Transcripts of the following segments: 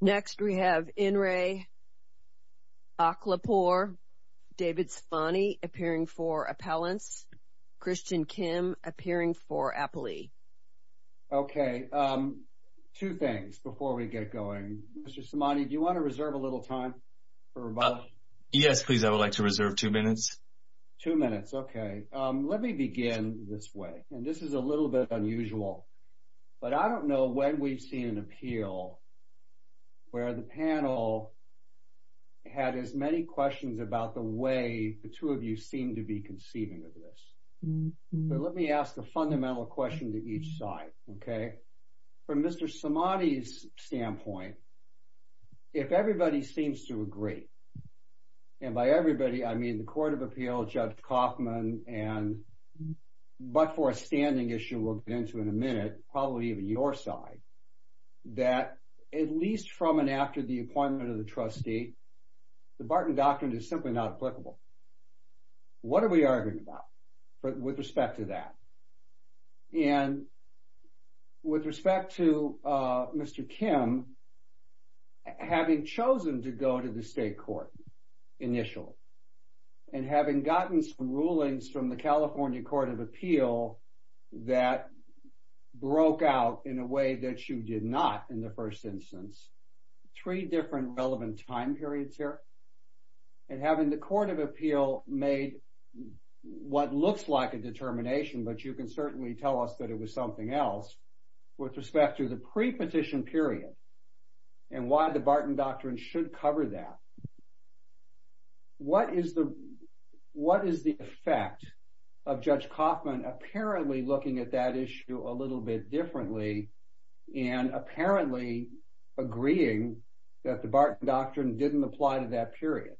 Next, we have Inre Akhlaghpour, David Svani, appearing for Appellants, Christian Kim, appearing for Appli. Okay, two things before we get going. Mr. Samani, do you want to reserve a little time for rebuttal? Yes, please. I would like to reserve two minutes. Two minutes, okay. Let me begin this way, and this is a little bit unusual. But I don't know when we've seen an appeal where the panel had as many questions about the way the two of you seem to be conceiving of this. Let me ask a fundamental question to each side, okay? From Mr. Samani's standpoint, if everybody seems to agree, and by everybody I mean the probably even your side, that at least from and after the appointment of the trustee, the Barton Doctrine is simply not applicable. What are we arguing about with respect to that? And with respect to Mr. Kim, having chosen to go to the state court initially, and having gotten some rulings from the California Court of Appeal that broke out in a way that you did not in the first instance, three different relevant time periods here, and having the Court of Appeal made what looks like a determination, but you can certainly tell us that it was something else, with respect to the pre-petition period, and why the Barton Doctrine should cover that. What is the effect of Judge Kaufman apparently looking at that issue a little bit differently, and apparently agreeing that the Barton Doctrine didn't apply to that period?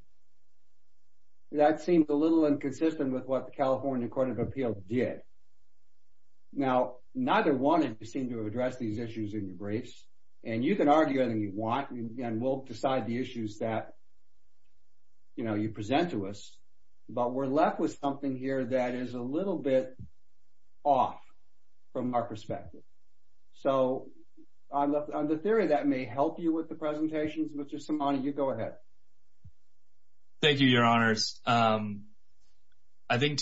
That seems a little inconsistent with what the California Court of Appeal did. Now neither one of you seem to have addressed these issues in your briefs, and you can argue anything you want, and we'll decide the issues that you present to us, but we're left with something here that is a little bit off from our perspective. So on the theory that may help you with the presentations, Mr. Simoni, you go ahead. Thank you, your honors. I think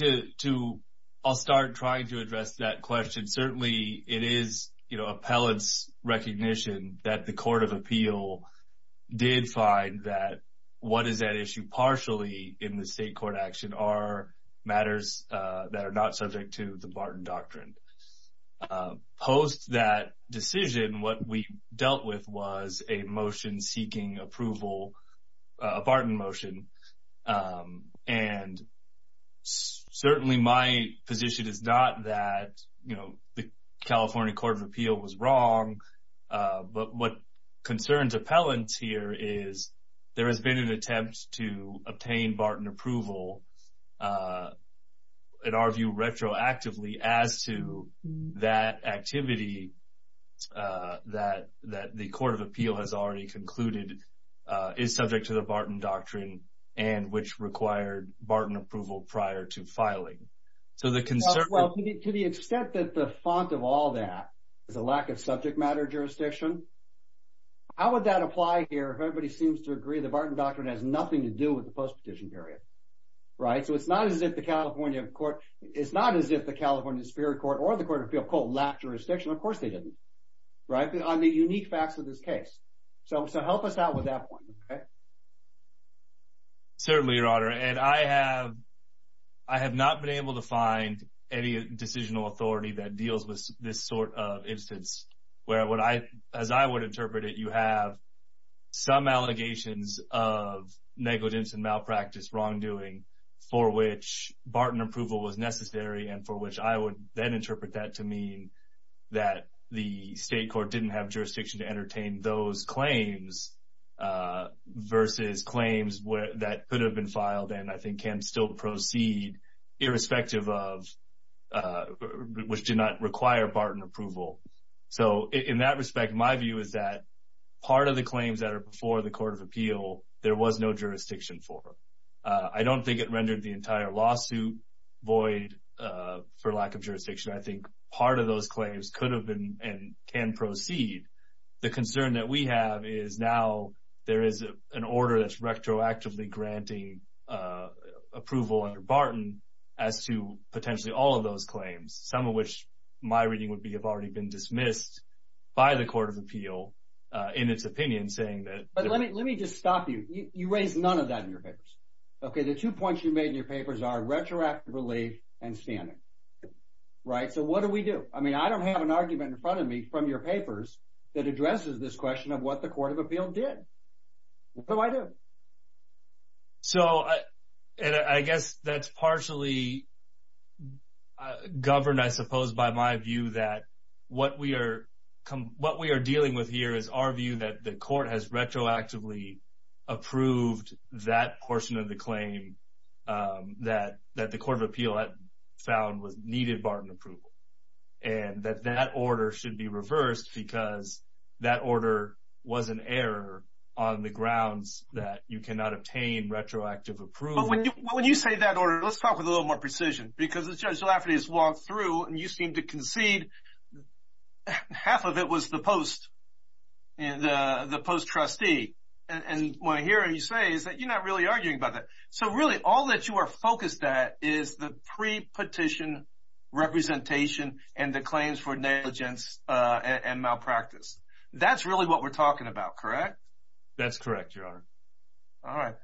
I'll start trying to address that question. Certainly it is appellate's recognition that the Court of Appeal did find that what is at issue partially in the state court action are matters that are not subject to the Barton Doctrine. Post that decision, what we dealt with was a motion seeking approval, a Barton motion, and certainly my position is not that the California Court of Appeal was wrong, but what concerns appellants here is there has been an attempt to obtain Barton approval, in our view retroactively, as to that activity that the Court of Appeal has already concluded is subject to the Barton Doctrine, and which required Barton approval prior to filing. So the concern... Well, to the extent that the font of all that is a lack of subject matter jurisdiction, how would that apply here if everybody seems to agree the Barton Doctrine has nothing to do with the post-petition period, right? So it's not as if the California Spirit Court or the Court of Appeal, quote, lacked jurisdiction. Of course they didn't, right, on the unique facts of this case. So help us out with that point, okay? Certainly, Your Honor, and I have not been able to find any decisional authority that deals with this sort of instance where, as I would interpret it, you have some allegations of negligence and malpractice, wrongdoing, for which Barton approval was necessary and for which I would then interpret that to mean that the state court didn't have jurisdiction to entertain those claims versus claims that could have been filed and I think can still proceed irrespective of... which did not require Barton approval. So in that respect, my view is that part of the claims that are before the Court of Appeal, there was no jurisdiction for. I don't think it rendered the entire lawsuit void for lack of jurisdiction. I think part of those claims could have been and can proceed. The concern that we have is now there is an order that's retroactively granting approval under Barton as to potentially all of those claims, some of which my reading would be have already been dismissed by the Court of Appeal in its opinion, saying that... But let me just stop you. You raise none of that in your papers, okay? The two points you made in your papers are retroactively and standing, right? So what do we do? I mean, I don't have an argument in front of me from your papers that addresses this question of what the Court of Appeal did. What do I do? So, and I guess that's partially governed, I suppose, by my view that what we are dealing with here is our view that the Court has retroactively approved that portion of the claim that the Court of Appeal had found needed Barton approval, and that that order should be reversed because that order was an error on the grounds that you cannot obtain retroactive approval. But when you say that order, let's talk with a little more precision, because as Judge and the post-trustee, and what I hear him say is that you're not really arguing about that. So really, all that you are focused at is the pre-petition representation and the claims for negligence and malpractice. That's really what we're talking about, correct? That's correct, Your Honor. All right.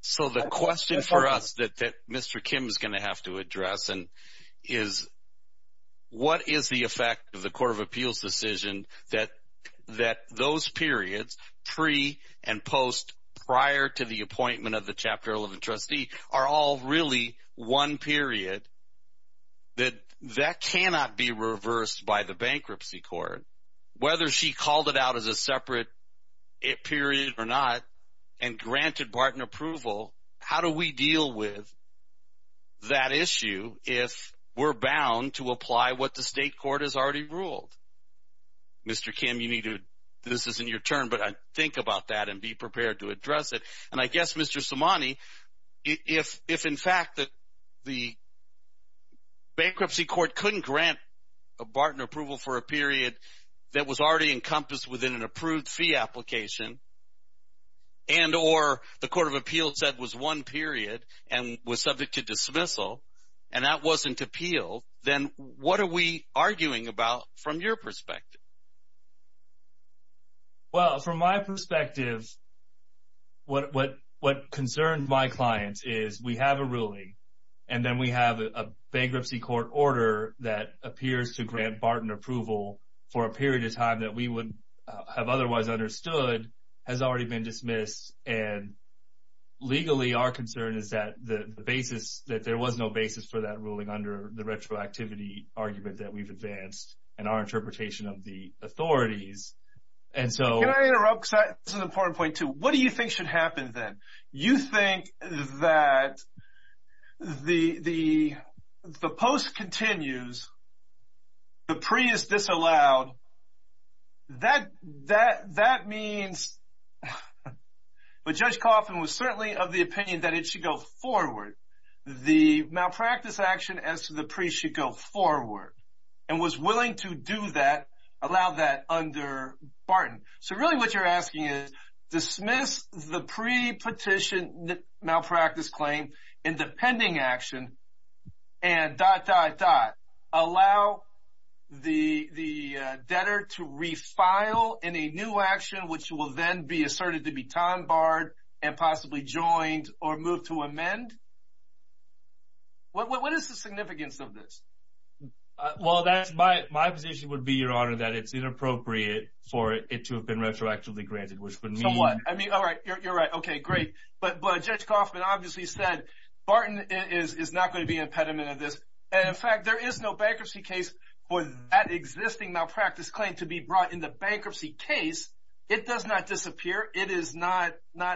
So the question for us that Mr. Kim is going to have to address is what is the effect of the Court of Appeal's decision that those periods, pre- and post-prior to the appointment of the Chapter 11 trustee, are all really one period that that cannot be reversed by the bankruptcy court? Whether she called it out as a separate period or not, and granted Barton approval, how do we Mr. Kim, this isn't your turn, but think about that and be prepared to address it. And I guess, Mr. Somani, if in fact the bankruptcy court couldn't grant Barton approval for a period that was already encompassed within an approved fee application, and or the Court of Appeal said was one period and was subject to dismissal, and that wasn't appealed, then what are we arguing about from your perspective? Well, from my perspective, what concerned my clients is we have a ruling, and then we have a bankruptcy court order that appears to grant Barton approval for a period of time that we would have otherwise understood has already been dismissed, and legally our concern is that the basis, for that ruling under the retroactivity argument that we've advanced in our interpretation of the authorities, and so... Can I interrupt? This is an important point, too. What do you think should happen then? You think that the post continues, the pre is disallowed, that means... But Judge Coffin was certainly of the opinion that it should go forward. The malpractice action as to the pre should go forward, and was willing to do that, allow that under Barton. So really what you're asking is dismiss the pre-petition malpractice claim in the pending action and dot, dot, dot, allow the debtor to refile in a new action which will then be asserted to be time barred and possibly joined or moved to amend? What is the significance of this? Well, my position would be, Your Honor, that it's inappropriate for it to have been retroactively granted, which would mean... I mean, all right, you're right. Okay, great. But Judge Coffin obviously said, Barton is not going to be an impediment of this. And in fact, there is no bankruptcy case for that existing malpractice claim to be brought in the bankruptcy case. It does not disappear. It is not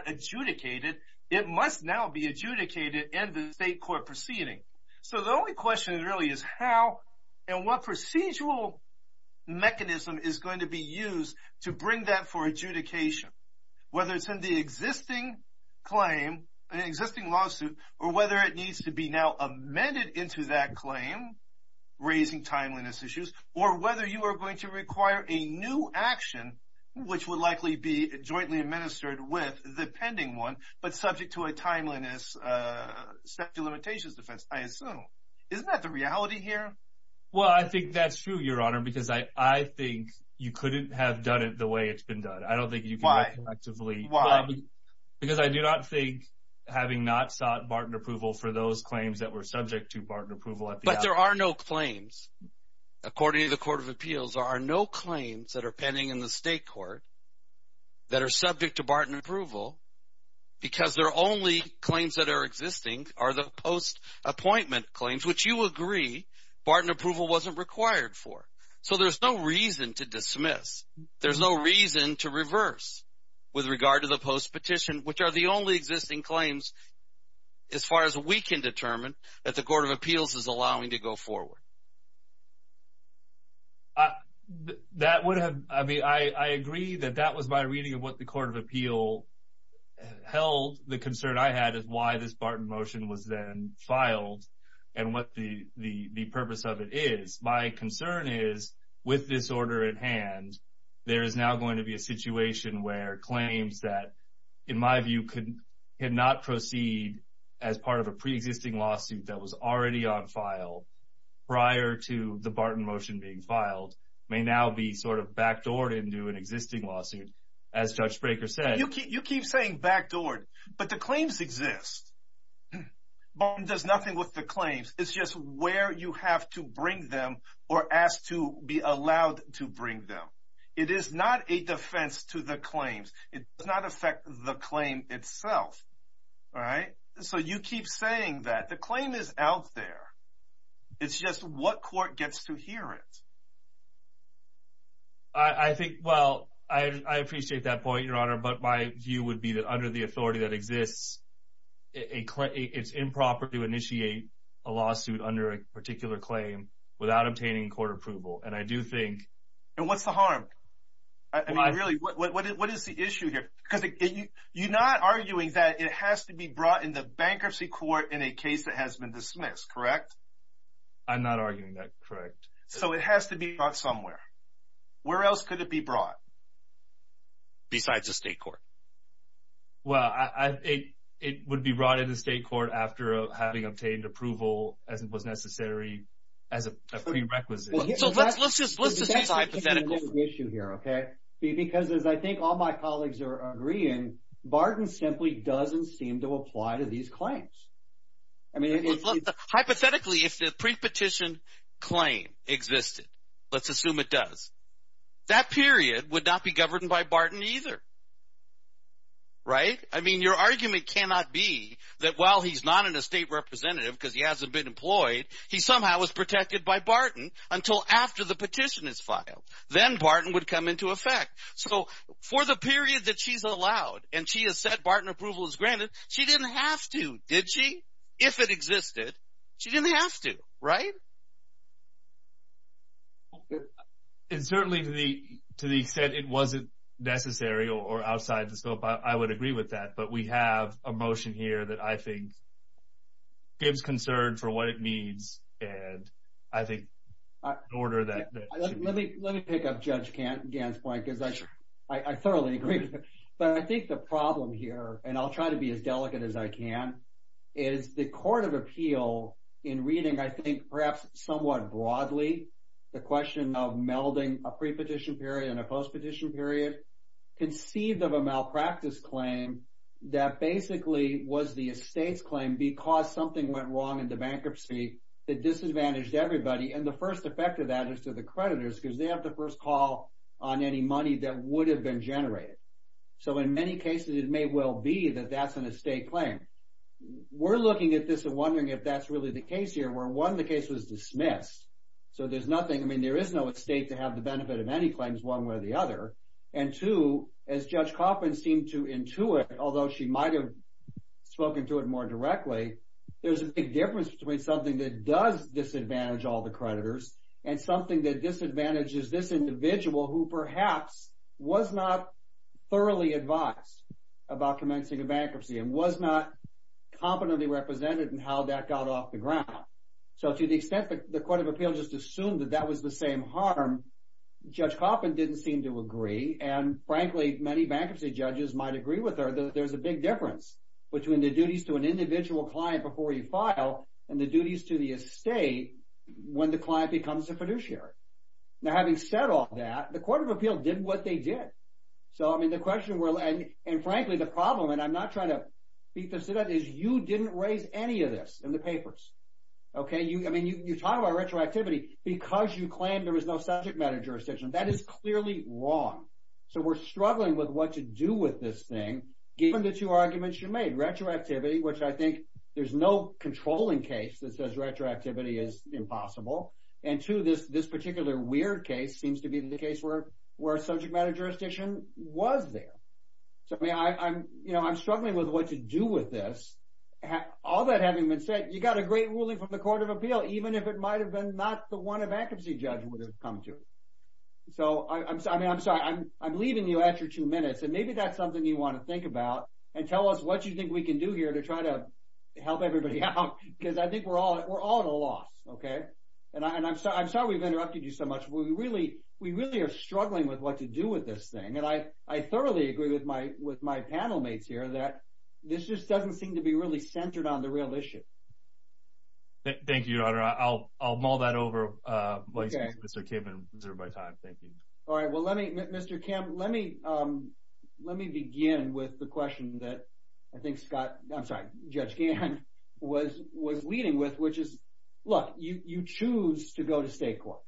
adjudicated. It must now be adjudicated in the state court proceeding. So the only question really is how and what procedural mechanism is going to be used to bring that for adjudication, whether it's in the existing claim, an existing lawsuit, or whether it needs to be now amended into that claim, raising timeliness issues, or whether you are going to require a new action which would likely be jointly administered with the pending one, but subject to a timeliness statute of limitations defense, I assume. Isn't that the reality here? Well, I think that's true, Your Honor, because I think you couldn't have done it the way it's been done. I don't think you could have collectively... Why? Because I do not think having not sought Barton approval for those claims that were subject to Barton approval at the... But there are no claims. According to the Court of Appeals, there are no claims that are pending in the state court that are subject to Barton approval because their only claims that are existing are the post-appointment claims, which you agree Barton approval wasn't required for. So there's no reason to dismiss. There's no reason to reverse with regard to the post-petition, which are the only existing claims as far as we can determine that the Court of Appeals is allowing to go forward. That would have... I mean, I agree that that was my reading of what the Court of Appeal held. The concern I had is why this Barton motion was then filed and what the purpose of it is. My concern is with this order at hand, there is now going to be a situation where claims that, in my view, could not proceed as part of a pre-existing lawsuit that was already on file prior to the Barton motion being filed may now be sort of backdoored into an existing lawsuit. As Judge Brekker said... You keep saying backdoored, but the claims exist. Barton does nothing with the claims. It's just where you have to bring them or ask to be allowed to bring them. It is not a defense to the claims. It does not affect the claim itself. So you keep saying that. The claim is out there. It's just what court gets to hear it. I think... Well, I appreciate that point, Your Honor, but my view would be that under the authority that exists, it's improper to initiate a lawsuit under a particular claim without obtaining court approval. And I do think... And what's the harm? I mean, really, what is the issue here? Because you're not arguing that it has to be brought into bankruptcy court in a case that has been dismissed, correct? I'm not arguing that, correct. So it has to be brought somewhere. Where else could it be brought besides the state court? Well, it would be brought into state court after having obtained approval as it was necessary as a prerequisite. So let's just use hypotheticals. That's the issue here, okay? Because as I think all my colleagues are agreeing, Barton simply doesn't seem to apply to these claims. Hypothetically, if the prepetition claim existed, let's assume it does, that period would not be governed by Barton either, right? I mean, your argument cannot be that while he's not in a state representative because he hasn't been employed, he somehow was protected by Barton until after the petition is filed. Then Barton would come into effect. So for the period that she's allowed and she has said Barton approval is granted, she didn't have to, did she? If it existed, she didn't have to, right? And certainly to the extent it wasn't necessary or outside the scope, I would agree with that. But we have a motion here that I think gives concern for what it means and I think in order that… Let me pick up Judge Gant's point because I thoroughly agree. But I think the problem here, and I'll try to be as delicate as I can, is the Court of Appeal in reading, I think, perhaps somewhat broadly, the question of melding a prepetition period and a postpetition period, conceived of a malpractice claim that basically was the estate's claim because something went wrong in the bankruptcy that disadvantaged everybody and the first effect of that is to the creditors because they have the first call on any money that would have been generated. So in many cases, it may well be that that's an estate claim. We're looking at this and wondering if that's really the case here where one, the case was dismissed. So there's nothing, I mean, there is no estate to have the benefit of any claims one way or the other. And two, as Judge Coffman seemed to intuit, although she might have spoken to it more directly, there's a big difference between something that does disadvantage all the creditors and something that disadvantages this individual who perhaps was not thoroughly advised about commencing a bankruptcy and was not competently represented in how that got off the ground. So to the extent that the Court of Appeal just assumed that that was the same harm, Judge Coffman didn't seem to agree, and frankly, many bankruptcy judges might agree with her that there's a big difference between the duties to an individual client before you file and the duties to the estate when the client becomes a fiduciary. Now, having said all that, the Court of Appeal did what they did. So, I mean, the question, and frankly, the problem, and I'm not trying to beat this to death, is you didn't raise any of this in the papers, okay? I mean, you talk about retroactivity because you claimed there was no subject matter jurisdiction. That is clearly wrong. So we're struggling with what to do with this thing, given the two arguments you made, retroactivity, which I think there's no controlling case that says retroactivity is impossible, and two, this particular weird case seems to be the case where subject matter jurisdiction was there. So, I mean, I'm struggling with what to do with this. All that having been said, you got a great ruling from the Court of Appeal, even if it might have been not the one a bankruptcy judge would have come to. So, I mean, I'm sorry. I'm leaving you extra two minutes, and maybe that's something you want to think about, and tell us what you think we can do here to try to help everybody out because I think we're all at a loss, okay? And I'm sorry we've interrupted you so much. We really are struggling with what to do with this thing, and I thoroughly agree with my panel mates here that this just doesn't seem to be really centered on the real issue. Thank you, Your Honor. I'll mull that over, Mr. Kivin, reserve my time. Thank you. All right. Well, Mr. Kim, let me begin with the question that I think Judge Gant was leading with, which is, look, you choose to go to state court,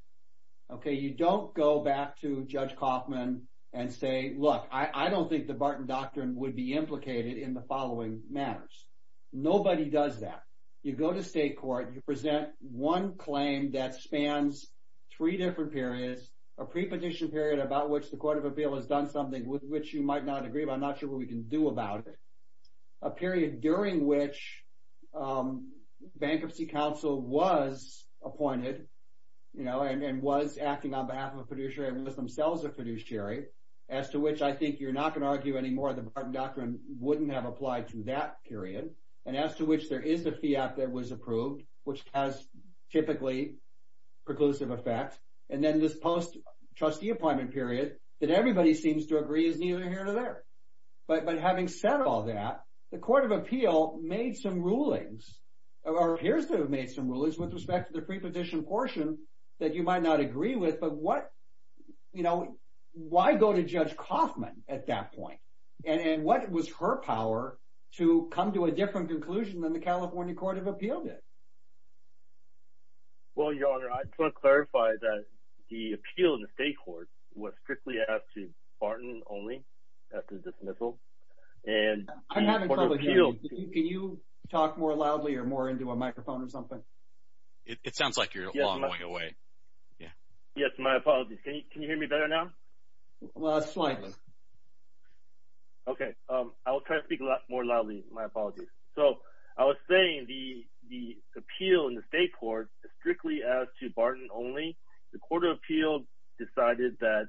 okay? You don't go back to Judge Kaufman and say, look, I don't think the Barton Doctrine would be implicated in the following matters. Nobody does that. You go to state court, you present one claim that spans three different periods, a pre-petition period about which the Court of Appeal has done something with which you might not agree, but I'm not sure what we can do about it, a period during which Bankruptcy Council was appointed, you know, and was acting on behalf of a producer and was themselves a producer, as to which I think you're not going to argue anymore. The Barton Doctrine wouldn't have applied to that period, and as to which there is a fiat that was approved, which has typically preclusive effect, and then this post-trustee appointment period that everybody seems to agree is neither here nor there. But having said all that, the Court of Appeal made some rulings, or appears to have made some rulings with respect to the pre-petition portion that you might not agree with, but what, you know, why go to Judge Kaufman at that point? And what was her power to come to a different conclusion than the California Court of Appeal did? Well, Your Honor, I just want to clarify that the appeal in the state court was strictly asked to Barton only after dismissal. I'm having trouble hearing you. Can you talk more loudly or more into a microphone or something? It sounds like you're a long way away. Yes, my apologies. Can you hear me better now? Well, slightly. Okay. I will try to speak more loudly. My apologies. So I was saying the appeal in the state court is strictly asked to Barton only. The Court of Appeal decided that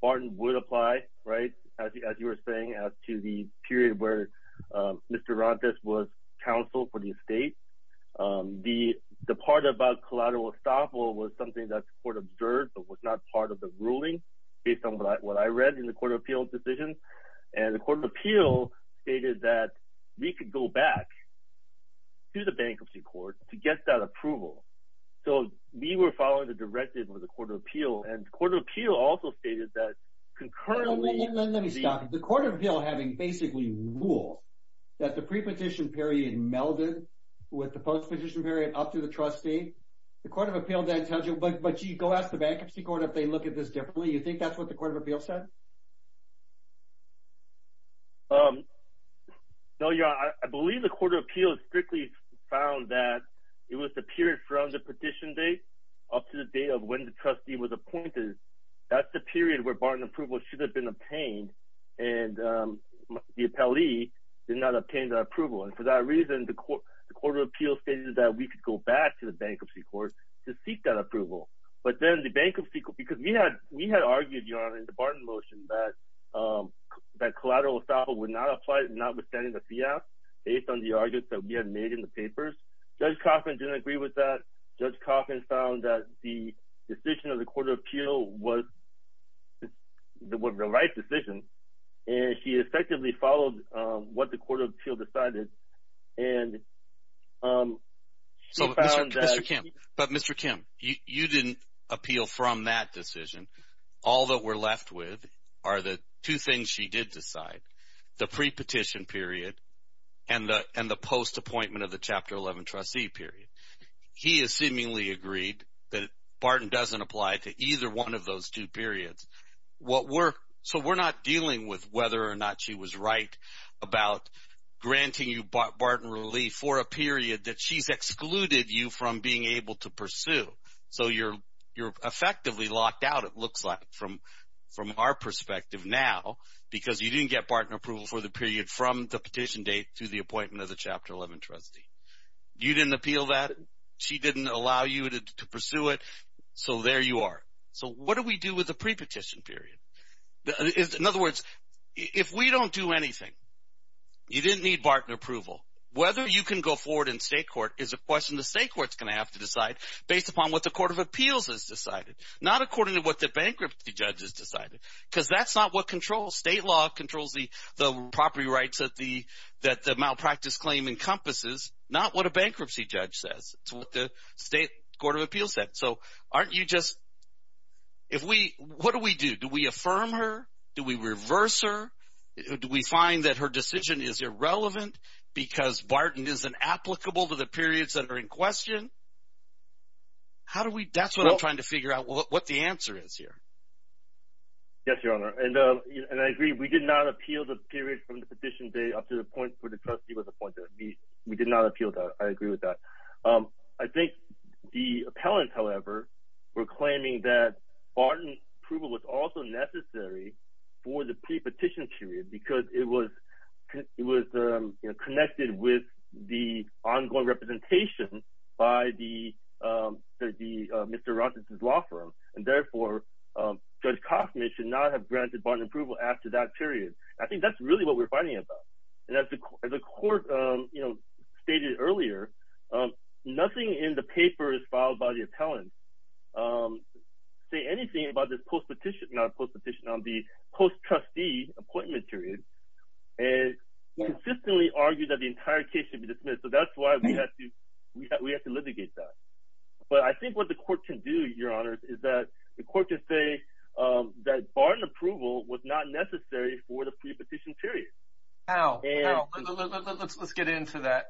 Barton would apply, right, as you were saying, as to the period where Mr. Rontes was counsel for the estate. The part about collateral estoppel was something that the court observed but was not part of the ruling based on what I read in the Court of Appeal's decision. And the Court of Appeal stated that we could go back to the bankruptcy court to get that approval. So we were following the directive of the Court of Appeal, and the Court of Appeal also stated that concurrently— Let me stop you. The Court of Appeal having basically ruled that the pre-petition period melded with the post-petition period up to the trustee, the Court of Appeal then tells you, but, gee, go ask the bankruptcy court if they look at this differently. You think that's what the Court of Appeal said? No, Your Honor. I believe the Court of Appeal strictly found that it was the period from the petition date up to the date of when the trustee was appointed. That's the period where Barton approval should have been obtained, and the appellee did not obtain that approval. And for that reason, the Court of Appeal stated that we could go back to the bankruptcy court to seek that approval. But then the bankruptcy—because we had argued, Your Honor, in the Barton motion that collateral estoppel would not apply, notwithstanding the fiat, based on the arguments that we had made in the papers. Judge Coffman didn't agree with that. Judge Coffman found that the decision of the Court of Appeal was the right decision, and she effectively followed what the Court of Appeal decided. But, Mr. Kim, you didn't appeal from that decision. All that we're left with are the two things she did decide, the pre-petition period and the post-appointment of the Chapter 11 trustee period. He has seemingly agreed that Barton doesn't apply to either one of those two periods. So we're not dealing with whether or not she was right about granting you Barton relief for a period that she's excluded you from being able to pursue. So you're effectively locked out, it looks like, from our perspective now, because you didn't get Barton approval for the period from the petition date to the appointment of the Chapter 11 trustee. You didn't appeal that. She didn't allow you to pursue it. So there you are. So what do we do with the pre-petition period? In other words, if we don't do anything, you didn't need Barton approval. Whether you can go forward in state court is a question the state court's going to have to decide based upon what the Court of Appeals has decided, not according to what the bankruptcy judge has decided, because that's not what controls. State law controls the property rights that the malpractice claim encompasses, not what a bankruptcy judge says. It's what the state Court of Appeals said. So aren't you just – if we – what do we do? Do we affirm her? Do we reverse her? Do we find that her decision is irrelevant because Barton isn't applicable to the periods that are in question? How do we – that's what I'm trying to figure out, what the answer is here. Yes, Your Honor, and I agree. We did not appeal the period from the petition day up to the point where the trustee was appointed. We did not appeal that. I agree with that. I think the appellants, however, were claiming that Barton approval was also necessary for the pre-petition period because it was connected with the ongoing representation by the – Mr. Robertson's law firm. And therefore, Judge Coffman should not have granted Barton approval after that period. I think that's really what we're fighting about. And as the court stated earlier, nothing in the paper is filed by the appellants. Say anything about this post-petition – not post-petition, on the post-trustee appointment period, and consistently argue that the entire case should be dismissed. So that's why we have to litigate that. But I think what the court can do, Your Honor, is that the court can say that Barton approval was not necessary for the pre-petition period. Now, let's get into that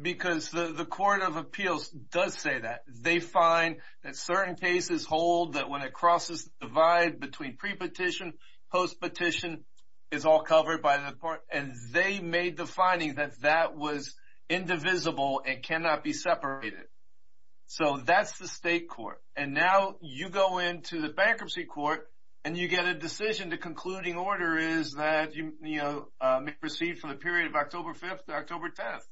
because the Court of Appeals does say that. They find that certain cases hold that when it crosses the divide between pre-petition, post-petition, it's all covered by the court. And they made the finding that that was indivisible and cannot be separated. So that's the state court. And now you go into the bankruptcy court and you get a decision. The concluding order is that you may proceed for the period of October 5th to October 10th.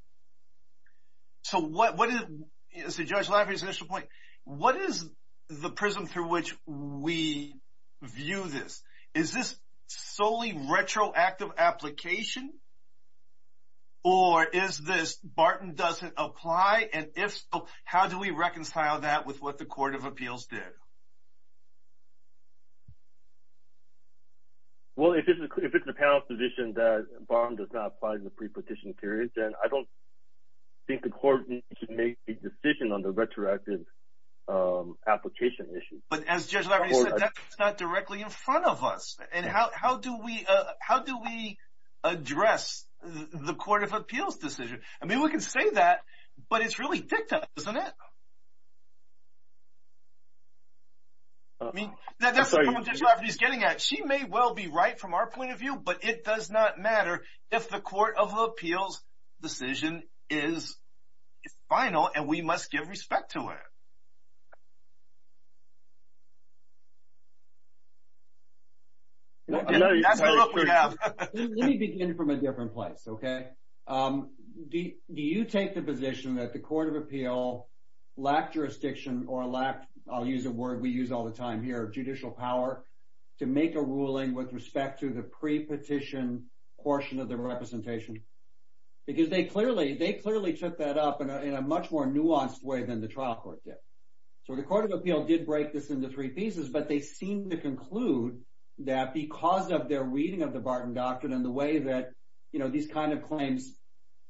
So Judge Lafferty's initial point, what is the prism through which we view this? Is this solely retroactive application or is this Barton doesn't apply? And if so, how do we reconcile that with what the Court of Appeals did? Well, if it's the panel's position that Barton does not apply in the pre-petition period, then I don't think the Court should make a decision on the retroactive application issue. But as Judge Lafferty said, that's not directly in front of us. And how do we address the Court of Appeals' decision? I mean we can say that, but it's really dicta, isn't it? That's the problem Judge Lafferty's getting at. She may well be right from our point of view, but it does not matter if the Court of Appeals' decision is final and we must give respect to it. Let me begin from a different place, okay? Do you take the position that the Court of Appeal lacked jurisdiction or lacked, I'll use a word we use all the time here, judicial power, to make a ruling with respect to the pre-petition portion of the representation? Because they clearly took that up in a much more nuanced way than the trial court did. So the Court of Appeal did break this into three pieces, but they seemed to conclude that because of their reading of the Barton Doctrine and the way that these kinds of claims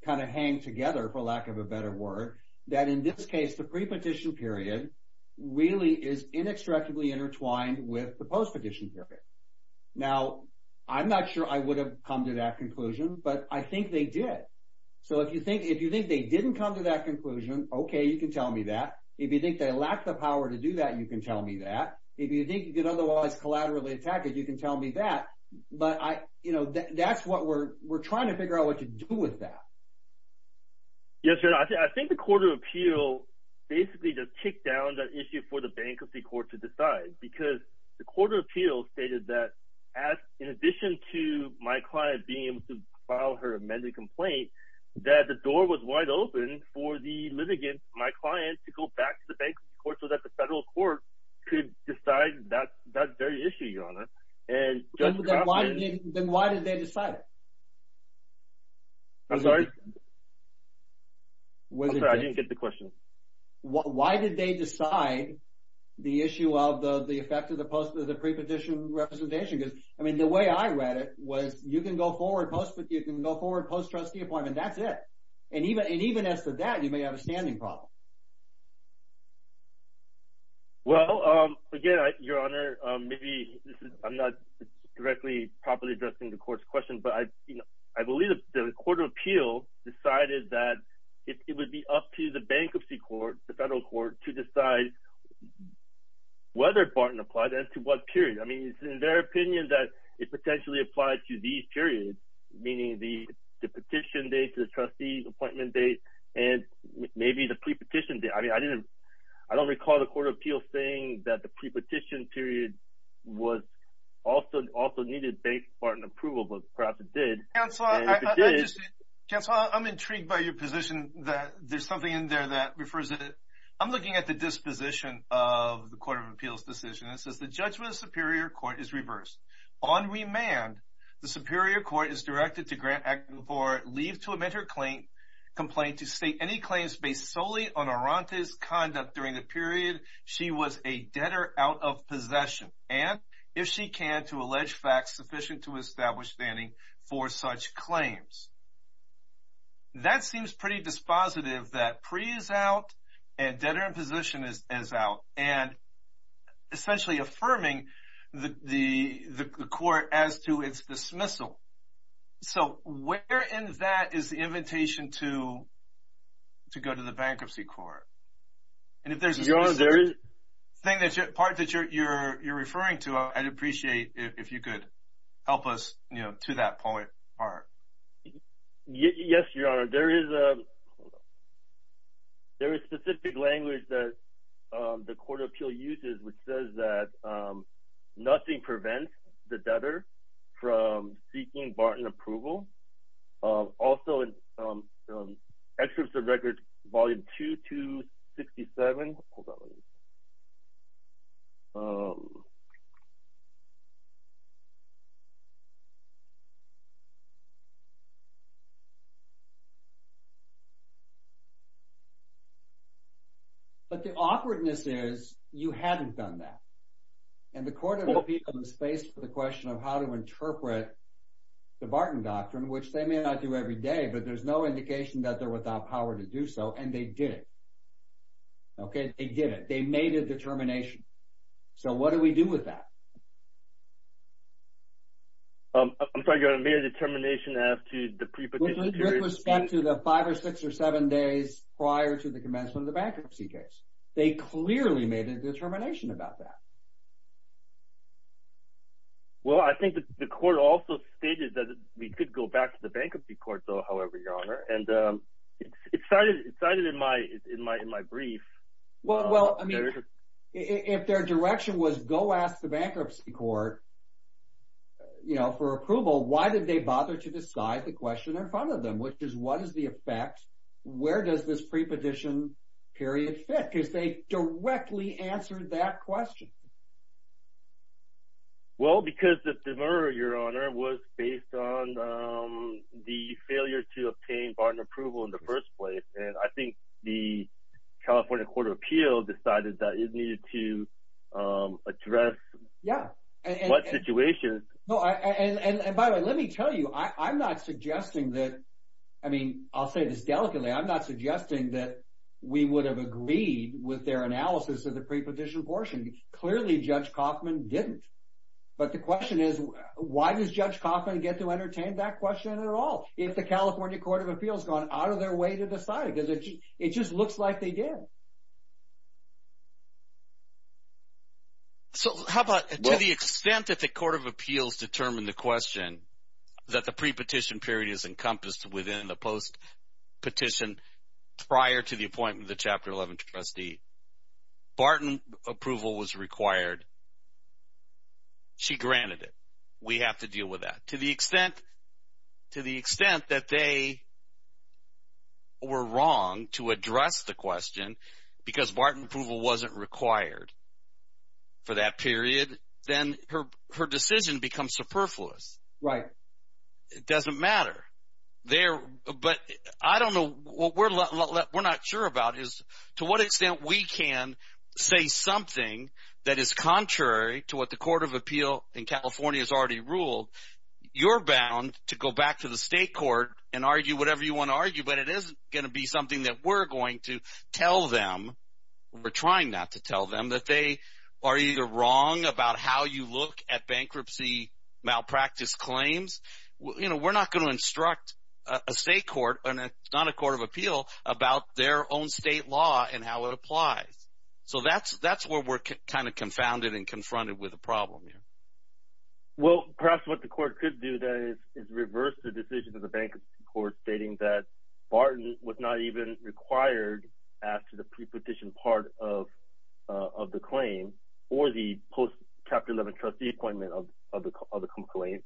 kind of hang together, for lack of a better word, that in this case the pre-petition period really is inextricably intertwined with the post-petition period. Now, I'm not sure I would have come to that conclusion, but I think they did. So if you think they didn't come to that conclusion, okay, you can tell me that. If you think they lacked the power to do that, you can tell me that. If you think you could otherwise collaterally attack it, you can tell me that. But that's what we're trying to figure out what to do with that. Yes, Your Honor. I think the Court of Appeal basically just kicked down that issue for the bankruptcy court to decide because the Court of Appeal stated that in addition to my client being able to file her amended complaint, that the door was wide open for the litigant, my client, to go back to the bankruptcy court so that the federal court could decide that very issue, Your Honor. Then why did they decide? I'm sorry? I'm sorry. I didn't get the question. Why did they decide the issue of the effect of the pre-petition representation? Because, I mean, the way I read it was you can go forward post-trustee appointment. That's it. And even as to that, you may have a standing problem. Well, again, Your Honor, maybe I'm not directly properly addressing the Court's question, but I believe the Court of Appeal decided that it would be up to the bankruptcy court, the federal court, to decide whether Barton applied and to what period. I mean, it's in their opinion that it potentially applied to these periods, meaning the petition date, the trustee appointment date, and maybe the pre-petition date. I mean, I don't recall the Court of Appeal saying that the pre-petition period also needed the bank's part in approval, but perhaps it did. Counselor, I'm intrigued by your position that there's something in there that refers to it. I'm looking at the disposition of the Court of Appeal's decision. It says the judgment of the Superior Court is reversed. On remand, the Superior Court is directed to grant acting for leave to amend her complaint to state any claims based solely on Arante's conduct during the period she was a debtor out of possession and, if she can, to allege facts sufficient to establish standing for such claims. That seems pretty dispositive that pre is out and debtor in position is out and essentially affirming the court as to its dismissal. So where in that is the invitation to go to the bankruptcy court? And if there's a specific part that you're referring to, I'd appreciate if you could help us to that point, Art. Yes, Your Honor. There is a specific language that the Court of Appeal uses, which says that nothing prevents the debtor from seeking Barton approval. Also in Excerpts of Records, Volume 2, 267. Hold on a minute. But the awkwardness is you haven't done that. And the Court of Appeal is faced with the question of how to interpret the Barton Doctrine, which they may not do every day, but there's no indication that they're without power to do so, and they did it. Okay, they did it. They made a determination. So what do we do with that? I'm sorry, Your Honor. Made a determination as to the preposition period. With respect to the five or six or seven days prior to the commencement of the bankruptcy case. They clearly made a determination about that. Well, I think the Court also stated that we could go back to the bankruptcy court, though, however, Your Honor. And it's cited in my brief. Well, I mean, if their direction was go ask the bankruptcy court for approval, why did they bother to decide the question in front of them, which is what is the effect, where does this preposition period fit? Because they directly answered that question. Well, because the deferral, Your Honor, was based on the failure to obtain Barton approval in the first place, and I think the California Court of Appeal decided that it needed to address what situation. And, by the way, let me tell you, I'm not suggesting that, I mean, I'll say this delicately. I'm not suggesting that we would have agreed with their analysis of the preposition portion. Clearly, Judge Kaufman didn't. But the question is, why does Judge Kaufman get to entertain that question at all? If the California Court of Appeal has gone out of their way to decide it, because it just looks like they did. So how about to the extent that the Court of Appeals determined the question, that the prepetition period is encompassed within the postpetition prior to the appointment of the Chapter 11 trustee, Barton approval was required. She granted it. We have to deal with that. To the extent that they were wrong to address the question, because Barton approval wasn't required for that period, then her decision becomes superfluous. Right. It doesn't matter. But I don't know, what we're not sure about is to what extent we can say something that is contrary to what the Court of Appeal and California has already ruled. You're bound to go back to the state court and argue whatever you want to argue, but it isn't going to be something that we're going to tell them. We're trying not to tell them that they are either wrong about how you look at bankruptcy malpractice claims. We're not going to instruct a state court, not a court of appeal, about their own state law and how it applies. So that's where we're kind of confounded and confronted with a problem here. Well, perhaps what the court could do then is reverse the decision of the bankruptcy court, stating that Barton was not even required after the prepetition part of the claim or the post-Chapter 11 trustee appointment of the complaint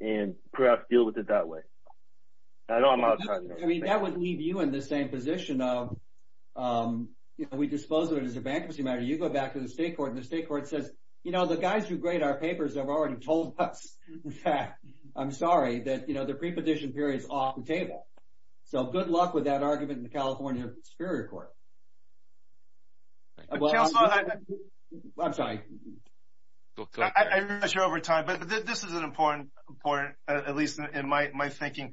and perhaps deal with it that way. I know I'm out of time. I mean, that would leave you in the same position of we dispose of it as a bankruptcy matter. You go back to the state court, and the state court says, you know, the guys who grade our papers have already told us that, I'm sorry, that the prepetition period is off the table. So good luck with that argument in the California Superior Court. I'm sorry. I'm not sure over time, but this is an important point, at least in my thinking.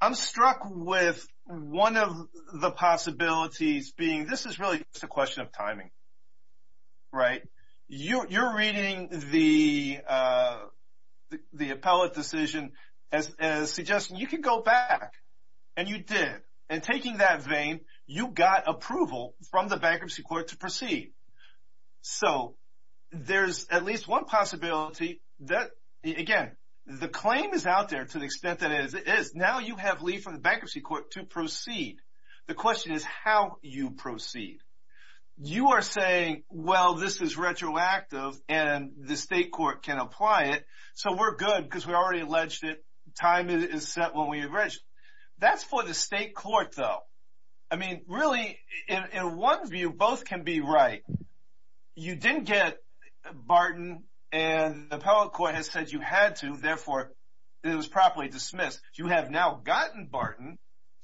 I'm struck with one of the possibilities being this is really just a question of timing, right? You're reading the appellate decision as suggesting you could go back, and you did. And taking that vein, you got approval from the bankruptcy court to proceed. So there's at least one possibility that, again, the claim is out there to the extent that it is. Now you have leave from the bankruptcy court to proceed. The question is how you proceed. You are saying, well, this is retroactive, and the state court can apply it, so we're good because we already alleged it. Time is set when we agree. That's for the state court, though. I mean, really, in one view, both can be right. You didn't get Barton, and the appellate court has said you had to. Therefore, it was properly dismissed. You have now gotten Barton,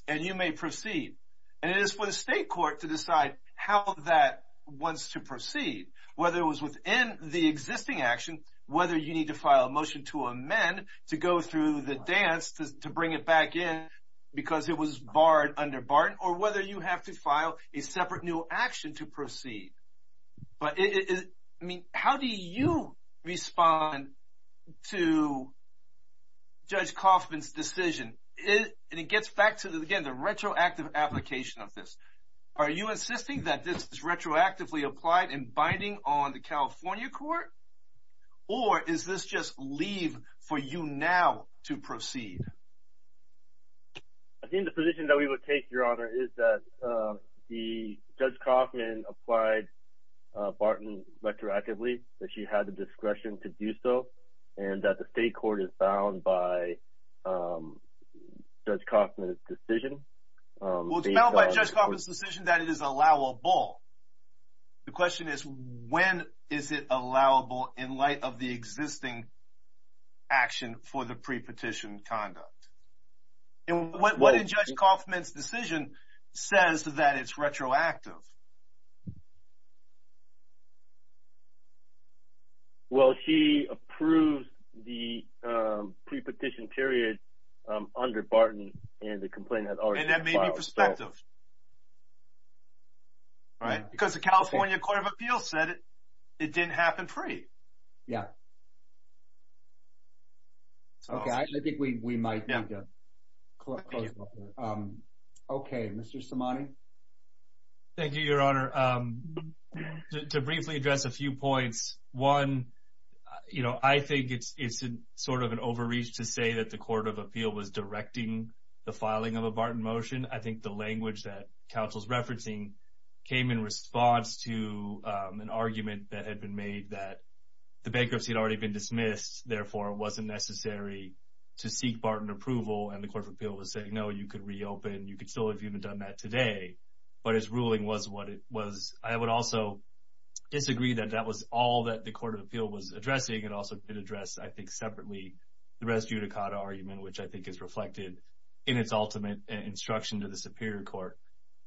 and you may proceed. And it is for the state court to decide how that wants to proceed, whether it was within the existing action, whether you need to file a motion to amend to go through the dance to bring it back in because it was barred under Barton, or whether you have to file a separate new action to proceed. But, I mean, how do you respond to Judge Kaufman's decision? And it gets back to, again, the retroactive application of this. Are you insisting that this is retroactively applied and binding on the California court? Or is this just leave for you now to proceed? I think the position that we would take, Your Honor, is that Judge Kaufman applied Barton retroactively, that she had the discretion to do so, and that the state court is bound by Judge Kaufman's decision. Well, it's bound by Judge Kaufman's decision that it is allowable. The question is, when is it allowable in light of the existing action for the pre-petition conduct? And what in Judge Kaufman's decision says that it's retroactive? Well, she approved the pre-petition period under Barton, and the complaint has already been filed. And that may be prospective, right? Because the California Court of Appeals said it didn't happen free. Yeah. Okay. I think we might need to close that. Okay. Mr. Simone? Thank you, Your Honor. To briefly address a few points, one, you know, I think it's sort of an overreach to say that the court of appeal was directing the filing of a Barton motion. I think the language that counsel's referencing came in response to an argument that had been made that the bankruptcy had already been dismissed, therefore it wasn't necessary to seek Barton approval, and the court of appeal was saying, no, you could reopen. You could still have even done that today. But its ruling was what it was. I would also disagree that that was all that the court of appeal was addressing. It also did address, I think, separately the res judicata argument, which I think is reflected in its ultimate instruction to the superior court.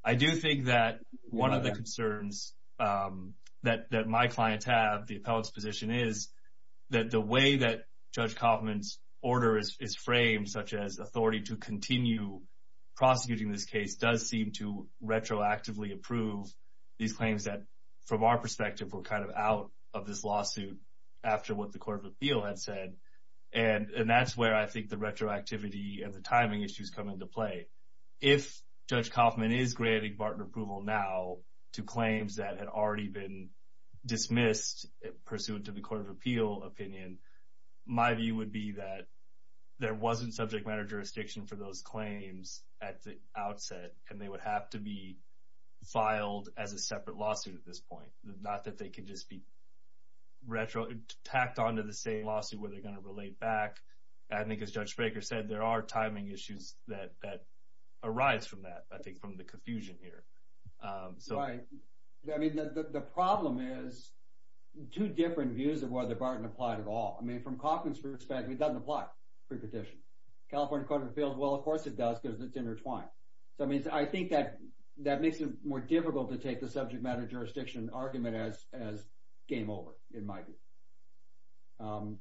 I do think that one of the concerns that my clients have, the appellate's position is that the way that Judge Kaufman's order is framed, such as authority to continue prosecuting this case, does seem to retroactively approve these claims that, from our perspective, were kind of out of this lawsuit after what the court of appeal had said. And that's where I think the retroactivity and the timing issues come into play. If Judge Kaufman is granting Barton approval now to claims that had already been dismissed pursuant to the court of appeal opinion, my view would be that there wasn't subject matter jurisdiction for those claims at the outset, and they would have to be filed as a separate lawsuit at this point, not that they could just be tacked onto the same lawsuit where they're going to relate back. I think, as Judge Spraker said, there are timing issues that arise from that, I think, from the confusion here. Right. I mean, the problem is two different views of whether Barton applied at all. I mean, from Kaufman's perspective, it doesn't apply pre-petition. California court of appeals, well, of course it does because it's intertwined. So, I mean, I think that makes it more difficult to take the subject matter jurisdiction argument as game over, in my view.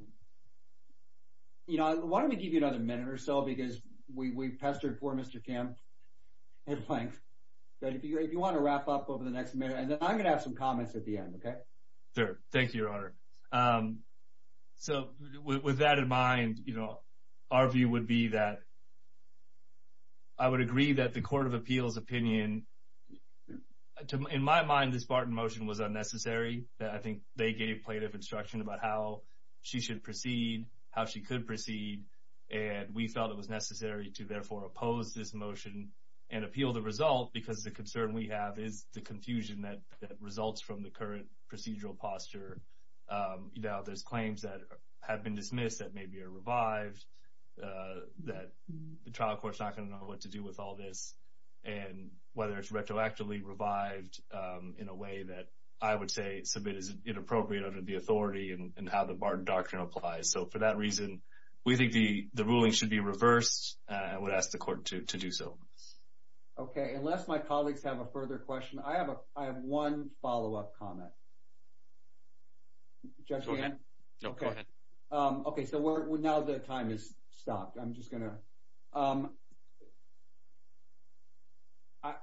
Why don't we give you another minute or so, because we've pestered poor Mr. Kim at length. But if you want to wrap up over the next minute, and then I'm going to have some comments at the end, OK? So, with that in mind, you know, our view would be that I would agree that the court of appeals opinion, in my mind, this Barton motion was unnecessary. I think they gave plaintiff instruction about how she should proceed, how she could proceed, and we felt it was necessary to therefore oppose this motion and appeal the result, because the concern we have is the confusion that results from the current procedural posture. You know, there's claims that have been dismissed that maybe are revived, that the trial court's not going to know what to do with all this, and whether it's retroactively revived in a way that I would say is inappropriate under the authority and how the Barton doctrine applies. So, for that reason, we think the ruling should be reversed, and I would ask the court to do so. OK. Unless my colleagues have a further question, I have one follow-up comment. Go ahead. OK. So, now the time has stopped. I'm just going to...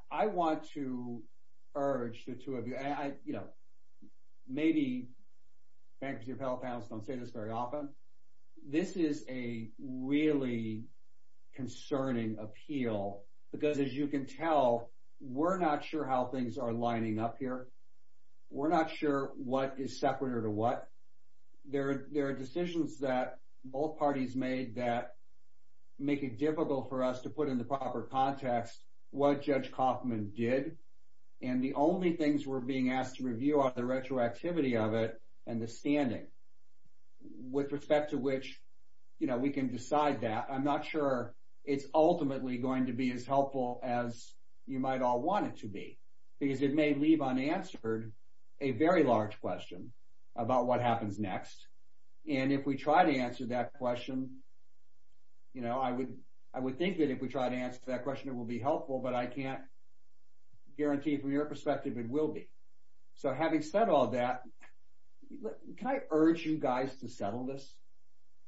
I want to urge the two of you, you know, maybe because your fellow panelists don't say this very often, this is a really concerning appeal, because as you can tell, we're not sure how things are lining up here. We're not sure what is separate or what. There are decisions that both parties made that make it difficult for us to put into proper context what Judge Kaufman did, and the only things we're being asked to review are the retroactivity of it and the standing. With respect to which, you know, we can decide that, I'm not sure it's ultimately going to be as helpful as you might all want it to be, because it may leave unanswered a very large question about what happens next, and if we try to answer that question, you know, I would think that if we try to answer that question, it will be helpful, but I can't guarantee from your perspective it will be. So having said all that, can I urge you guys to settle this?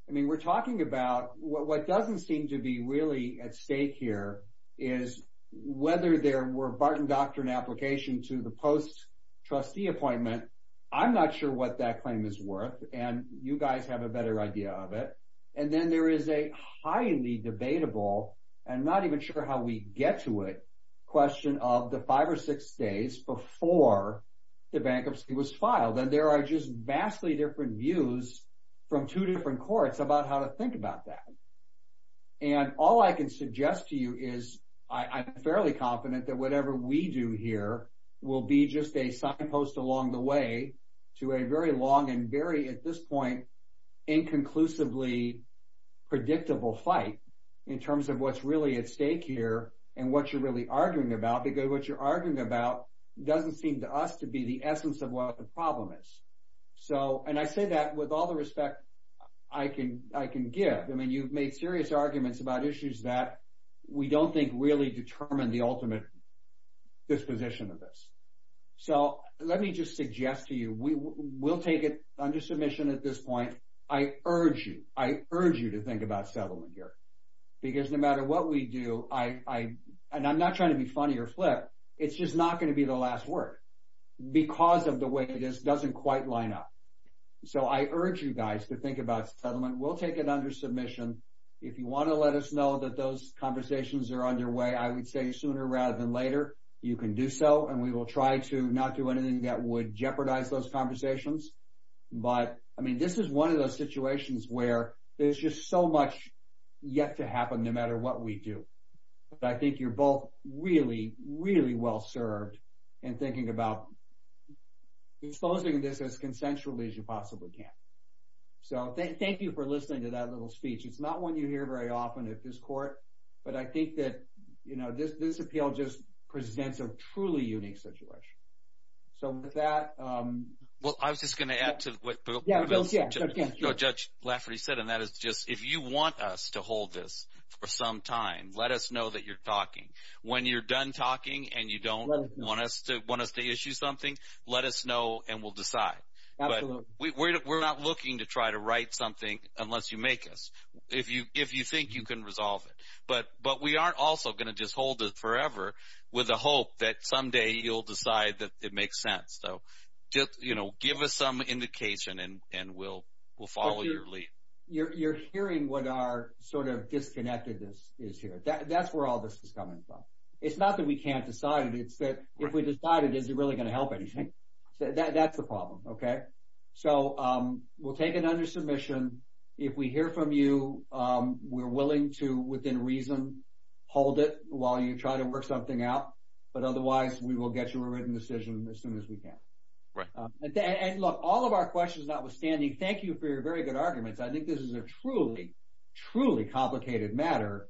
I mean, we're talking about what doesn't seem to be really at stake here is whether there were a Barton Doctrine application to the post-trustee appointment. I'm not sure what that claim is worth, and you guys have a better idea of it, and then there is a highly debatable, and not even sure how we get to it, question of the five or six days before the bankruptcy was filed, and there are just vastly different views from two different courts about how to think about that, and all I can suggest to you is I'm fairly confident that whatever we do here will be just a signpost along the way to a very long and very, at this point, inconclusively predictable fight in terms of what's really at stake here and what you're really arguing about, because what you're arguing about doesn't seem to us to be the essence of what the problem is. And I say that with all the respect I can give. I mean, you've made serious arguments about issues that we don't think really determine the ultimate disposition of this. So let me just suggest to you we'll take it under submission at this point. I urge you, I urge you to think about settlement here, because no matter what we do, and I'm not trying to be funny or flip, it's just not going to be the last word, because of the way this doesn't quite line up. So I urge you guys to think about settlement. We'll take it under submission. If you want to let us know that those conversations are underway, I would say sooner rather than later. You can do so, and we will try to not do anything that would jeopardize those conversations. But, I mean, this is one of those situations where there's just so much yet to happen no matter what we do. But I think you're both really, really well served in thinking about exposing this as consensually as you possibly can. So thank you for listening to that little speech. It's not one you hear very often at this court, but I think that this appeal just presents a truly unique situation. So with that. Well, I was just going to add to what Judge Lafferty said, and that is just if you want us to hold this for some time, let us know that you're talking. When you're done talking and you don't want us to issue something, let us know and we'll decide. But we're not looking to try to write something unless you make us, if you think you can resolve it. But we aren't also going to just hold it forever with the hope that someday you'll decide that it makes sense. So just give us some indication and we'll follow your lead. You're hearing what our sort of disconnectedness is here. That's where all this is coming from. It's not that we can't decide it. It's that if we decide it, is it really going to help anything? That's the problem, okay? So we'll take it under submission. If we hear from you, we're willing to, within reason, hold it while you try to work something out. But otherwise, we will get you a written decision as soon as we can. And look, all of our questions notwithstanding, thank you for your very good arguments. I think this is a truly, truly complicated matter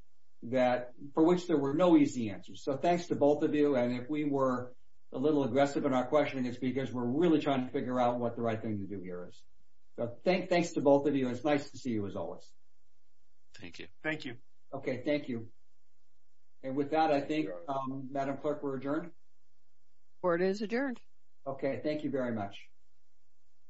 for which there were no easy answers. So thanks to both of you. And if we were a little aggressive in our questioning, it's because we're really trying to figure out what the right thing to do here is. Thanks to both of you. It's nice to see you, as always. Thank you. Thank you. Okay, thank you. And with that, I think, Madam Clerk, we're adjourned? Court is adjourned. Okay, thank you very much.